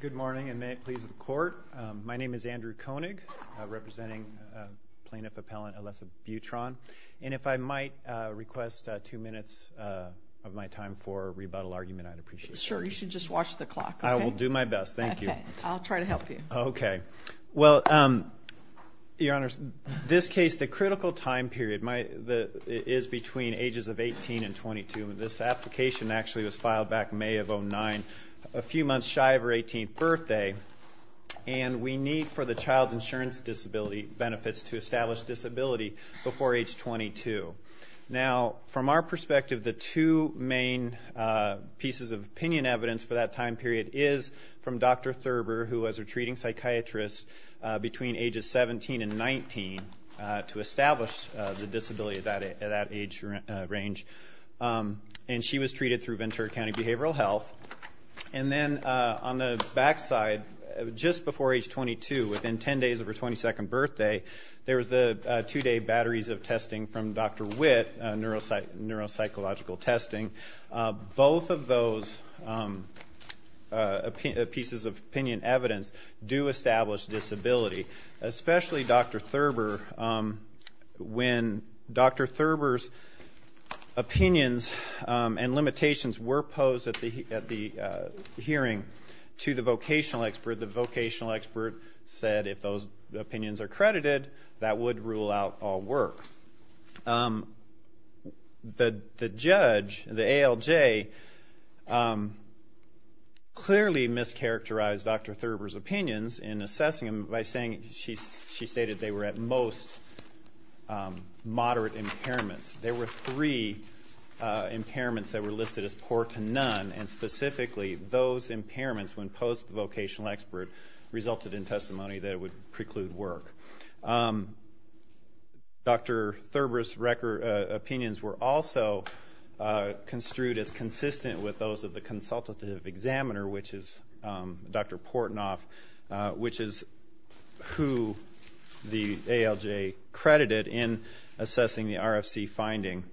Good morning, and may it please the Court. My name is Andrew Koenig, representing plaintiff-appellant Alessa Buitron. And if I might request two minutes of my time for a rebuttal argument, I'd appreciate it. Sure. You should just watch the clock. I will do my best. Thank you. I'll try to help you. Okay. Well, Your Honors, this case, the critical time period is between ages of 18 and 22. This application actually was filed back in May of 2009, a few months shy of her 18th birthday. And we need for the child's insurance disability benefits to establish disability before age 22. Now, from our perspective, the two main pieces of opinion evidence for that time period is from Dr. Thurber, who was a retreating psychiatrist between ages 17 and 19 to establish the disability at that age range. And she was treated through Ventura County Behavioral Health. And then on the back side, just before age 22, within 10 days of her 22nd birthday, there was the two-day batteries of testing from Dr. Witt, neuropsychological testing. Both of those pieces of opinion evidence do establish disability, especially Dr. Thurber. When Dr. Thurber's opinions and limitations were posed at the hearing to the vocational expert, the vocational expert said if those opinions are credited, that would rule out all work. The judge, the ALJ, clearly mischaracterized Dr. Thurber's opinions in assessing them by saying she stated they were at most moderate impairments. There were three impairments that were listed as poor to none, and specifically those impairments when posed to the vocational expert resulted in testimony that it would preclude work. Dr. Thurber's opinions were also construed as consistent with those of the consultative examiner, which is Dr. Portnoff, which is who the ALJ credited in assessing the RFC finding.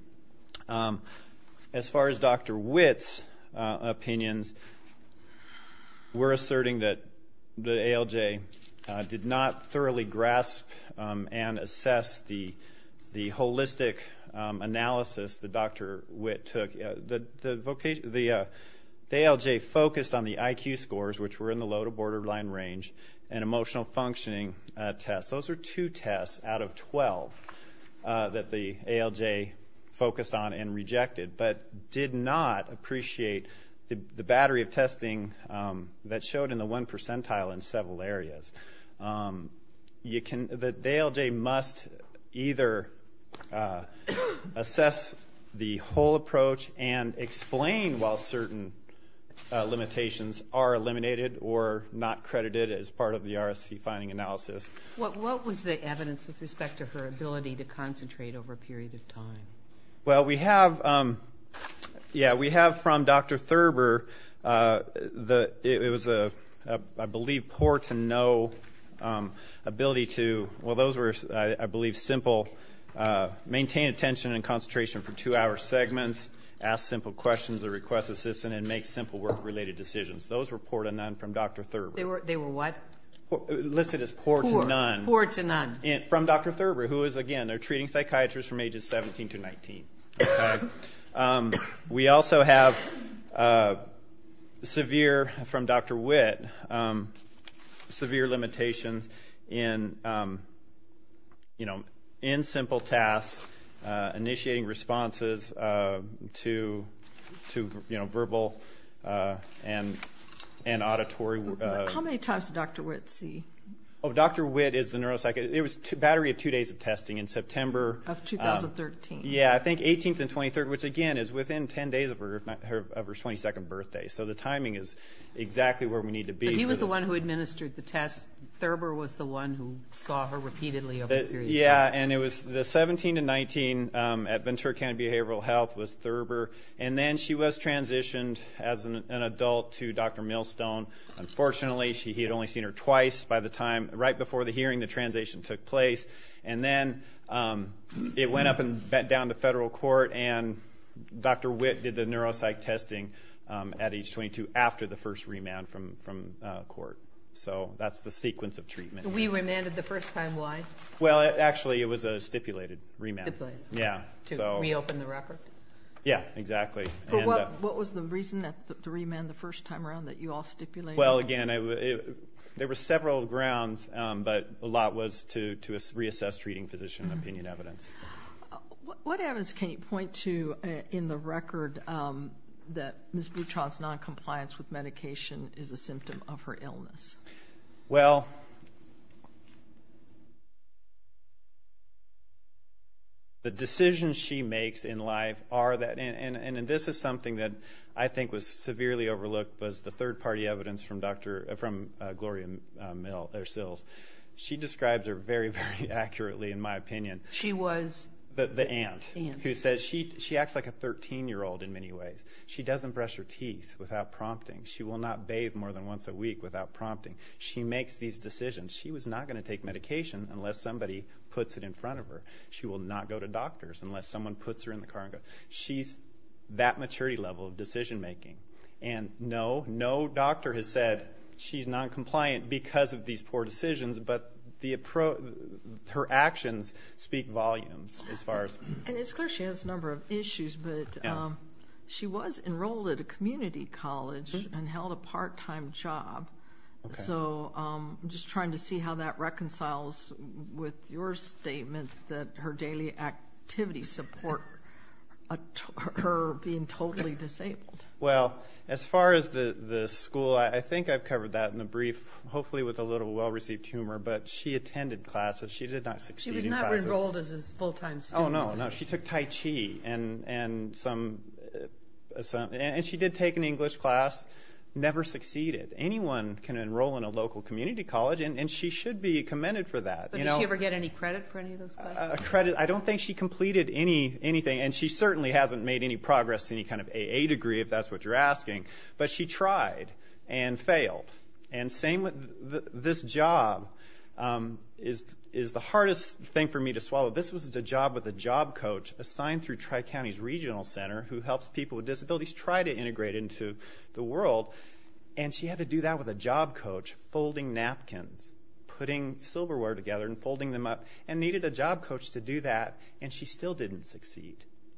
As far as Dr. Witt's opinions, we're asserting that the ALJ did not thoroughly grasp and assess the holistic analysis that Dr. Witt took. The ALJ focused on the IQ scores, which were in the low to borderline range, and emotional functioning tests. Those are two tests out of 12 that the ALJ focused on and rejected, but did not appreciate the battery of testing that showed in the one percentile in several areas. The ALJ must either assess the whole approach and explain while certain limitations are eliminated or not credited as part of the RFC finding analysis. What was the evidence with respect to her ability to concentrate over a period of time? Well, we have from Dr. Thurber that it was, I believe, poor to no ability to, well, those were, I believe, simple. Maintain attention and concentration for two-hour segments, ask simple questions or request assistance, and make simple work-related decisions. Those were poor to none from Dr. Thurber. They were what? Listed as poor to none. Poor to none. From Dr. Thurber, who is, again, a treating psychiatrist from ages 17 to 19. We also have severe, from Dr. Witt, severe limitations in, you know, in simple tasks, initiating responses to, you know, verbal and auditory. How many times did Dr. Witt see? Oh, Dr. Witt is the neuropsychologist. It was a battery of two days of testing in September. Of 2013. Yeah, I think 18th and 23rd, which, again, is within 10 days of her 22nd birthday. So the timing is exactly where we need to be. But he was the one who administered the test. Thurber was the one who saw her repeatedly over a period of time. Yeah, and it was the 17 to 19 at Ventura County Behavioral Health was Thurber, and then she was transitioned as an adult to Dr. Millstone. Unfortunately, he had only seen her twice by the time, right before the hearing, the transition took place. And then it went up and down to federal court, and Dr. Witt did the neuropsych testing at age 22 after the first remand from court. So that's the sequence of treatment. We remanded the first time. Why? Well, actually, it was a stipulated remand. Stipulated. Yeah. To reopen the record? Yeah, exactly. But what was the reason to remand the first time around that you all stipulated? Well, again, there were several grounds, but a lot was to reassess treating physician opinion evidence. What evidence can you point to in the record that Ms. Butron's noncompliance with medication is a symptom of her illness? Well, the decisions she makes in life are that, and this is something that I think was severely overlooked, was the third-party evidence from Gloria Mills. She describes her very, very accurately, in my opinion. She was? The aunt. The aunt. She acts like a 13-year-old in many ways. She doesn't brush her teeth without prompting. She will not bathe more than once a week without prompting. She makes these decisions. She was not going to take medication unless somebody puts it in front of her. She will not go to doctors unless someone puts her in the car and goes. She's that maturity level of decision-making. And no, no doctor has said she's noncompliant because of these poor decisions, but her actions speak volumes as far as... And it's clear she has a number of issues, but she was enrolled at a community college and held a part-time job. Okay. So I'm just trying to see how that reconciles with your statement that her daily activities support her being totally disabled. Well, as far as the school, I think I've covered that in a brief, hopefully with a little well-received humor, but she attended classes. She did not succeed in classes. She was not enrolled as a full-time student. Oh, no, no. She took Tai Chi, and she did take an English class, never succeeded. Anyone can enroll in a local community college, and she should be commended for that. But did she ever get any credit for any of those classes? I don't think she completed anything, and she certainly hasn't made any progress to any kind of AA degree, if that's what you're asking. But she tried and failed. And this job is the hardest thing for me to swallow. This was a job with a job coach assigned through Tri-County's Regional Center who helps people with disabilities try to integrate into the world. And she had to do that with a job coach folding napkins, putting silverware together and folding them up, and needed a job coach to do that, and she still didn't succeed.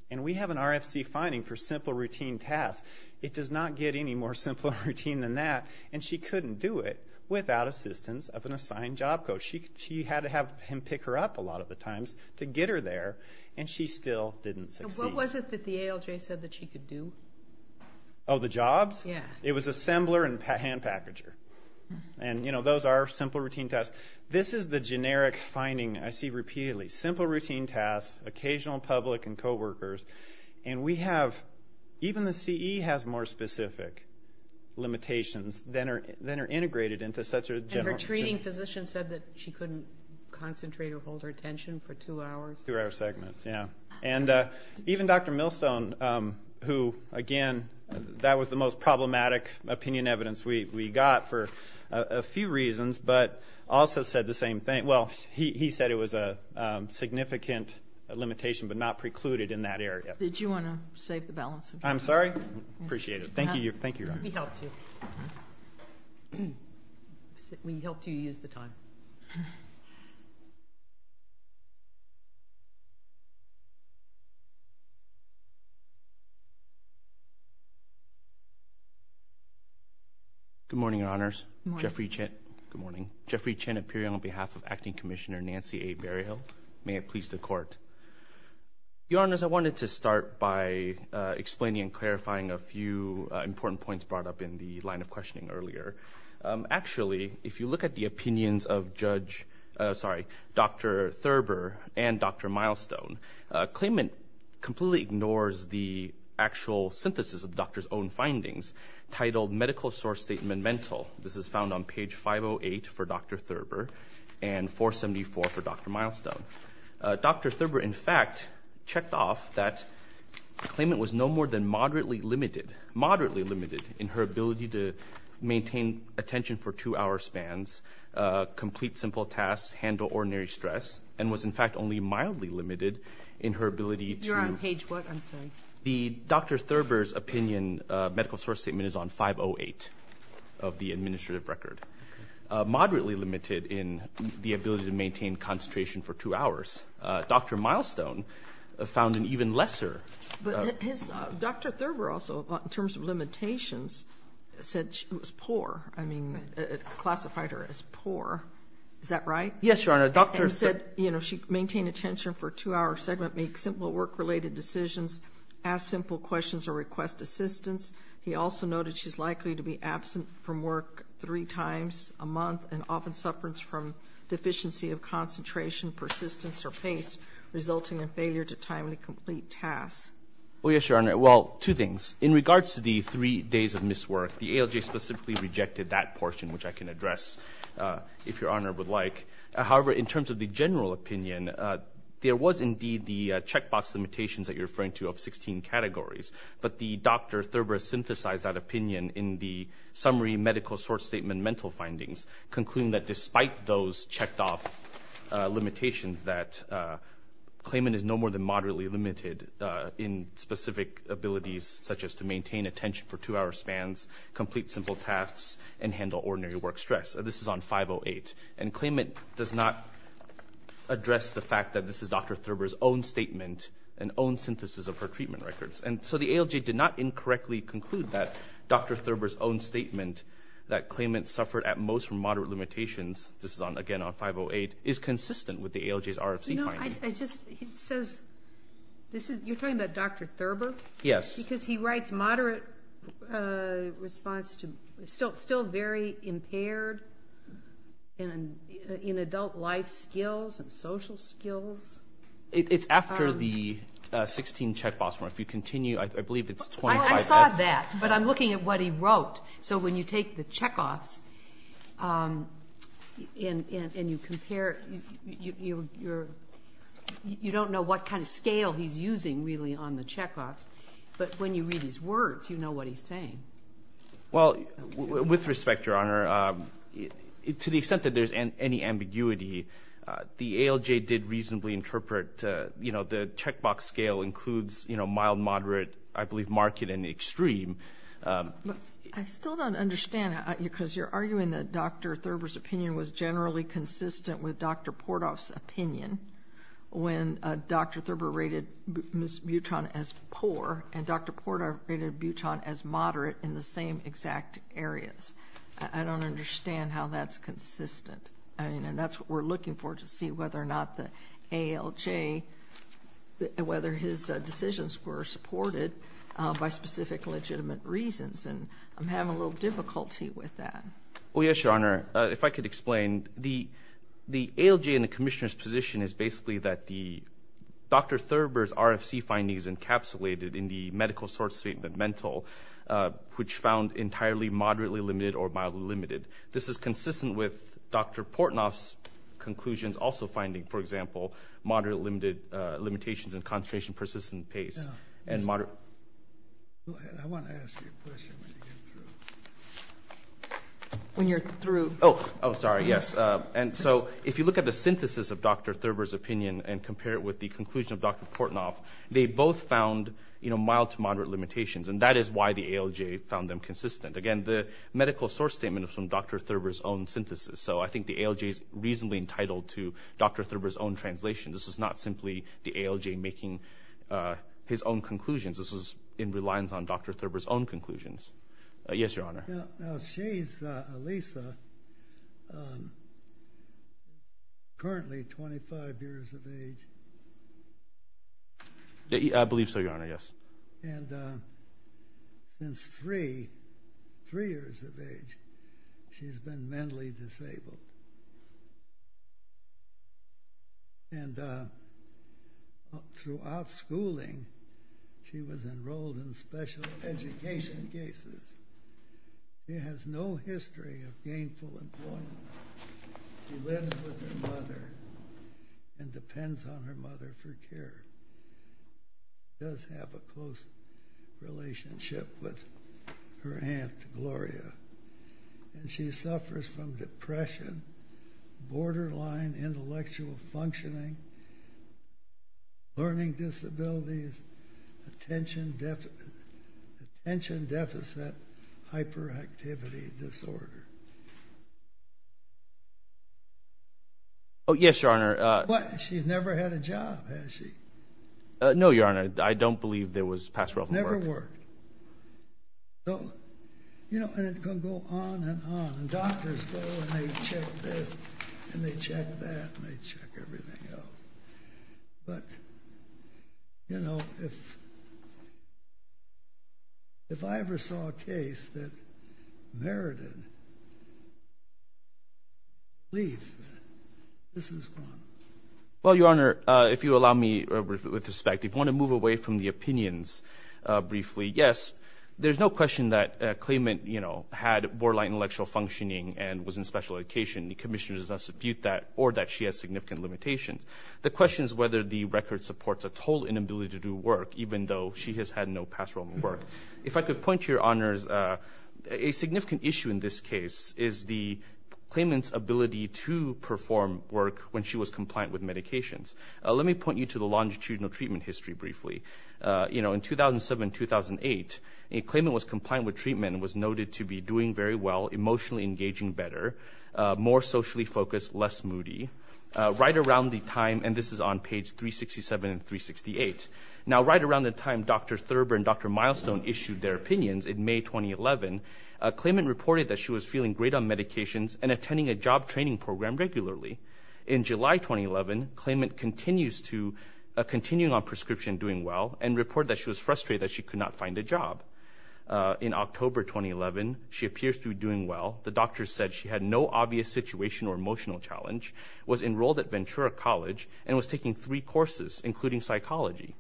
And we have an RFC finding for simple routine tasks. It does not get any more simple routine than that, and she couldn't do it without assistance of an assigned job coach. She had to have him pick her up a lot of the times to get her there, and she still didn't succeed. And what was it that the ALJ said that she could do? Oh, the jobs? Yeah. It was assembler and hand packager. And, you know, those are simple routine tasks. This is the generic finding I see repeatedly, simple routine tasks, occasional public and coworkers. And we have, even the CE has more specific limitations than are integrated into such a general. And her treating physician said that she couldn't concentrate or hold her attention for two hours. Two-hour segments, yeah. And even Dr. Millstone, who, again, that was the most problematic opinion evidence we got for a few reasons, but also said the same thing. Well, he said it was a significant limitation but not precluded in that area. Did you want to save the balance? I'm sorry? Appreciate it. Thank you. We helped you. We helped you use the time. Good morning, Your Honors. Good morning. Jeffrey Chen. Good morning. Jeffrey Chen, appearing on behalf of Acting Commissioner Nancy A. Berryhill. May it please the Court. Your Honors, I wanted to start by explaining and clarifying a few important points brought up in the line of questioning earlier. Actually, if you look at the opinions of Judge, sorry, Dr. Thurber and Dr. Millstone, claimant completely ignores the actual synthesis of the doctor's own findings, titled Medical Source Statement Mental. This is found on page 508 for Dr. Thurber and 474 for Dr. Millstone. Dr. Thurber, in fact, checked off that claimant was no more than moderately limited, moderately limited in her ability to maintain attention for two-hour spans, complete simple tasks, handle ordinary stress, and was, in fact, only mildly limited in her ability to... You're on page what? I'm sorry. The Dr. Thurber's opinion Medical Source Statement is on 508 of the administrative record, moderately limited in the ability to maintain concentration for two hours. Dr. Millstone found an even lesser... But Dr. Thurber also, in terms of limitations, said she was poor. I mean, classified her as poor. Is that right? Yes, Your Honor. And said, you know, she maintained attention for a two-hour segment, made simple work-related decisions, asked simple questions or requested assistance. He also noted she's likely to be absent from work three times a month and often suffers from deficiency of concentration, persistence, or pace, resulting in failure to timely complete tasks. Oh, yes, Your Honor. Well, two things. In regards to the three days of miswork, the ALJ specifically rejected that portion, which I can address if Your Honor would like. However, in terms of the general opinion, there was indeed the checkbox limitations that you're referring to of 16 categories. But Dr. Thurber synthesized that opinion in the summary medical source statement mental findings, concluding that despite those checked-off limitations, that claimant is no more than moderately limited in specific abilities, such as to maintain attention for two-hour spans, complete simple tasks, and handle ordinary work stress. This is on 508. And claimant does not address the fact that this is Dr. Thurber's own statement and own synthesis of her treatment records. And so the ALJ did not incorrectly conclude that Dr. Thurber's own statement that claimant suffered at most from moderate limitations, this is, again, on 508, is consistent with the ALJ's RFC findings. You know, I just, it says, this is, you're talking about Dr. Thurber? Yes. Because he writes moderate response to still very impaired in adult life skills and social skills. It's after the 16 check-offs. If you continue, I believe it's 25F. I saw that. But I'm looking at what he wrote. So when you take the check-offs and you compare, you don't know what kind of scale he's using, really, on the check-offs. But when you read his words, you know what he's saying. Well, with respect, Your Honor, to the extent that there's any ambiguity, the ALJ did reasonably interpret, you know, the check-box scale includes, you know, mild, moderate, I believe, market, and extreme. I still don't understand because you're arguing that Dr. Thurber's opinion was generally consistent with Dr. Portoff's opinion when Dr. Thurber rated Ms. Buton as poor and Dr. Portoff rated Buton as moderate in the same exact areas. I don't understand how that's consistent. I mean, and that's what we're looking for to see whether or not the ALJ, whether his decisions were supported by specific legitimate reasons. And I'm having a little difficulty with that. Oh, yes, Your Honor. If I could explain, the ALJ and the Commissioner's position is basically that Dr. Thurber's RFC findings encapsulated in the medical source statement mental, which found entirely moderately limited or mildly limited. This is consistent with Dr. Portoff's conclusions also finding, for example, moderate limitations in concentration persistent pace and moderate. Go ahead. I want to ask you a question when you get through. When you're through. Oh, sorry, yes. And so if you look at the synthesis of Dr. Thurber's opinion and compare it with the conclusion of Dr. Portoff, they both found, you know, mild to moderate limitations, and that is why the ALJ found them consistent. Again, the medical source statement is from Dr. Thurber's own synthesis, so I think the ALJ is reasonably entitled to Dr. Thurber's own translation. This is not simply the ALJ making his own conclusions. This is in reliance on Dr. Thurber's own conclusions. Yes, Your Honor. Now, Shays Alisa, currently 25 years of age. I believe so, Your Honor, yes. And since three, three years of age, she's been mentally disabled. And throughout schooling, she was enrolled in special education cases. She has no history of gainful employment. She lives with her mother and depends on her mother for care. She does have a close relationship with her aunt, Gloria. And she suffers from depression, borderline intellectual functioning, learning disabilities, attention deficit hyperactivity disorder. Oh, yes, Your Honor. What? She's never had a job, has she? No, Your Honor. I don't believe there was pastoral work. Never worked. So, you know, and it can go on and on. And doctors go and they check this and they check that and they check everything else. But, you know, if I ever saw a case that merited leave, this is one. Well, Your Honor, if you allow me, with respect, if you want to move away from the opinions briefly, yes. There's no question that claimant, you know, had borderline intellectual functioning and was in special education. The commissioner does not dispute that or that she has significant limitations. The question is whether the record supports a total inability to do work, even though she has had no pastoral work. If I could point you, Your Honors, a significant issue in this case is the claimant's ability to perform work when she was compliant with medications. Let me point you to the longitudinal treatment history briefly. You know, in 2007-2008, a claimant was compliant with treatment and was noted to be doing very well, emotionally engaging better, more socially focused, less moody. Right around the time, and this is on page 367 and 368, now right around the time Dr. Thurber and Dr. Milestone issued their opinions in May 2011, a claimant reported that she was feeling great on medications and attending a job training program regularly. In July 2011, a claimant continues to continue on prescription doing well and reported that she was frustrated that she could not find a job. In October 2011, she appears to be doing well. The doctor said she had no obvious situation or emotional challenge, was enrolled at Ventura College, and was taking three courses, including psychology.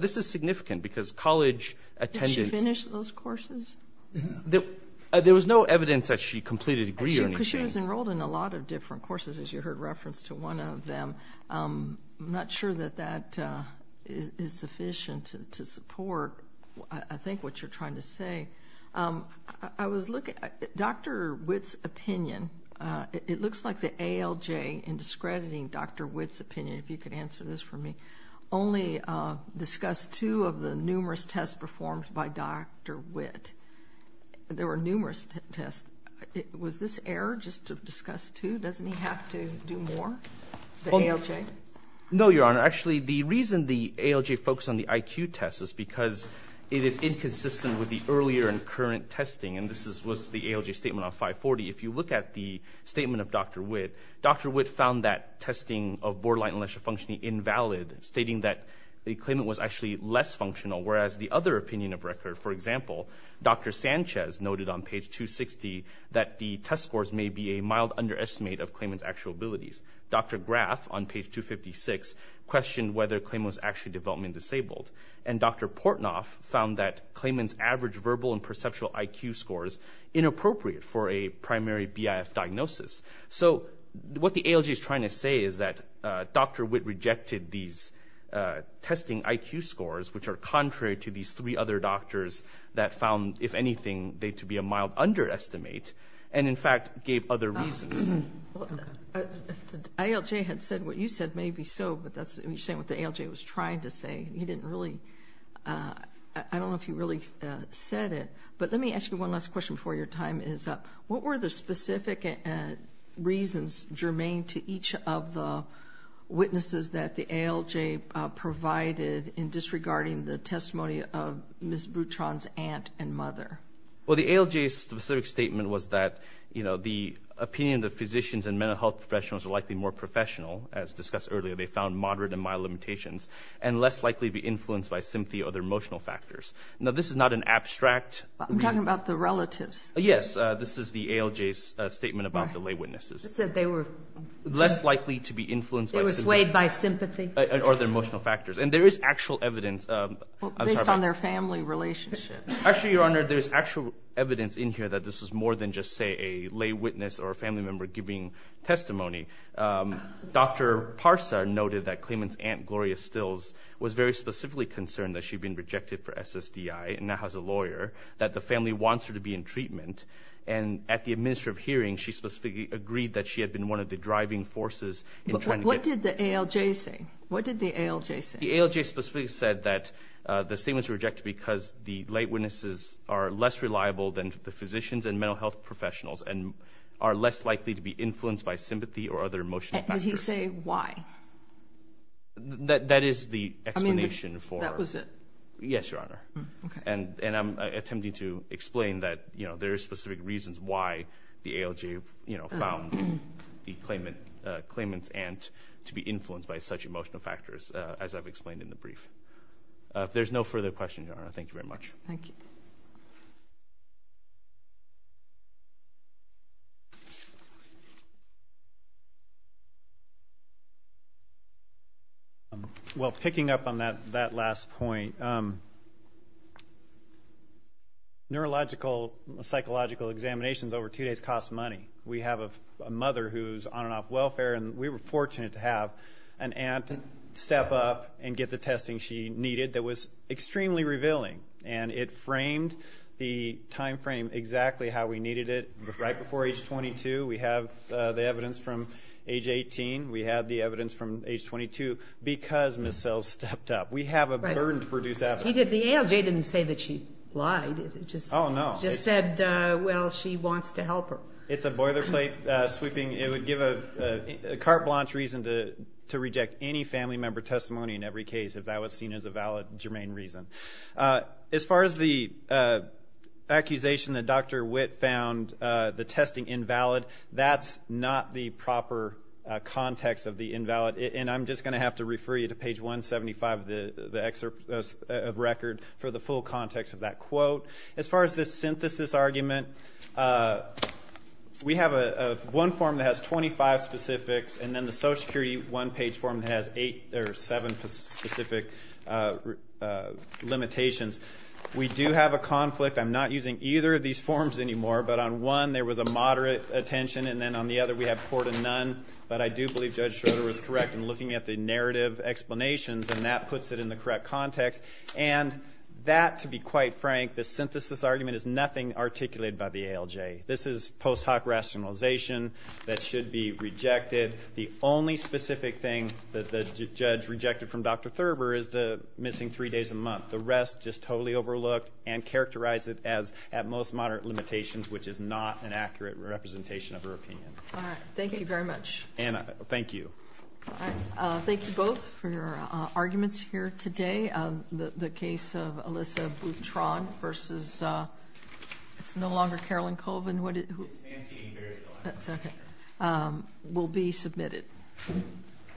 This is significant because college attendance- Did she finish those courses? There was no evidence that she completed a degree or anything. Because she was enrolled in a lot of different courses, as you heard reference to one of them. I'm not sure that that is sufficient to support, I think, what you're trying to say. I was looking at Dr. Witt's opinion. It looks like the ALJ, in discrediting Dr. Witt's opinion, if you could answer this for me, only discussed two of the numerous tests performed by Dr. Witt. There were numerous tests. Was this error just to discuss two? Doesn't he have to do more? The ALJ? No, Your Honor. Actually, the reason the ALJ focused on the IQ test is because it is inconsistent with the earlier and current testing, and this was the ALJ statement on 540. If you look at the statement of Dr. Witt, Dr. Witt found that testing of borderline intellectual functioning invalid, stating that the claimant was actually less functional, whereas the other opinion of record, for example, Dr. Sanchez noted on page 260 that the test scores may be a mild underestimate of claimant's actual abilities. Dr. Graf on page 256 questioned whether a claimant was actually development disabled, and Dr. Portnoff found that claimant's average verbal and perceptual IQ scores inappropriate for a primary BIF diagnosis. So what the ALJ is trying to say is that Dr. Witt rejected these testing IQ scores, which are contrary to these three other doctors that found, if anything, they to be a mild underestimate, and, in fact, gave other reasons. If the ALJ had said what you said, maybe so, but that's what you're saying, what the ALJ was trying to say. He didn't really – I don't know if he really said it. But let me ask you one last question before your time is up. What were the specific reasons germane to each of the witnesses that the ALJ provided in disregarding the testimony of Ms. Butron's aunt and mother? Well, the ALJ's specific statement was that, you know, the opinion of the physicians and mental health professionals are likely more professional, as discussed earlier, they found moderate and mild limitations, and less likely to be influenced by sympathy or their emotional factors. Now, this is not an abstract reason. I'm talking about the relatives. Yes, this is the ALJ's statement about the lay witnesses. It said they were less likely to be influenced by sympathy. They were swayed by sympathy. Or their emotional factors. And there is actual evidence. Based on their family relationship. Actually, Your Honor, there's actual evidence in here that this was more than just, say, a lay witness or a family member giving testimony. Dr. Parsa noted that Clayman's aunt, Gloria Stills, was very specifically concerned that she had been rejected for SSDI and now has a lawyer, that the family wants her to be in treatment. And at the administrative hearing, she specifically agreed that she had been one of the driving forces. What did the ALJ say? What did the ALJ say? The ALJ specifically said that the statements were rejected because the lay witnesses are less reliable than the physicians and mental health professionals and are less likely to be influenced by sympathy or other emotional factors. Did he say why? That is the explanation for. I mean, that was it. Okay. And I'm attempting to explain that, you know, there are specific reasons why the ALJ found the Clayman's aunt to be influenced by such emotional factors, as I've explained in the brief. If there's no further questions, Your Honor, thank you very much. Thank you. Well, picking up on that last point, neurological, psychological examinations over two days cost money. We have a mother who's on and off welfare, and we were fortunate to have an aunt step up and get the testing she needed that was extremely revealing. And it framed the time frame exactly how we needed it. Right before age 22, we have the evidence from age 18. We have the evidence from age 22 because Ms. Sells stepped up. We have a burden to produce after that. He did the ALJ. He didn't say that she lied. Oh, no. He just said, well, she wants to help her. It's a boilerplate sweeping. It would give a carte blanche reason to reject any family member testimony in every case if that was seen as a valid, germane reason. As far as the accusation that Dr. Witt found the testing invalid, that's not the proper context of the invalid. And I'm just going to have to refer you to page 175 of the record for the full context of that quote. As far as the synthesis argument, we have one form that has 25 specifics, and then the Social Security one-page form has eight or seven specific limitations. We do have a conflict. I'm not using either of these forms anymore, but on one there was a moderate attention, and then on the other we have poor to none. But I do believe Judge Schroeder was correct in looking at the narrative explanations, and that puts it in the correct context. And that, to be quite frank, the synthesis argument is nothing articulated by the ALJ. This is post hoc rationalization that should be rejected. The only specific thing that the judge rejected from Dr. Thurber is the missing three days a month. The rest just totally overlooked and characterized it as at most moderate limitations, which is not an accurate representation of her opinion. All right. Thank you very much. Anna, thank you. All right. Thank you both for your arguments here today. The case of Alyssa Boutron versus it's no longer Carolyn Colvin. It's Nancy. That's okay. Will be submitted.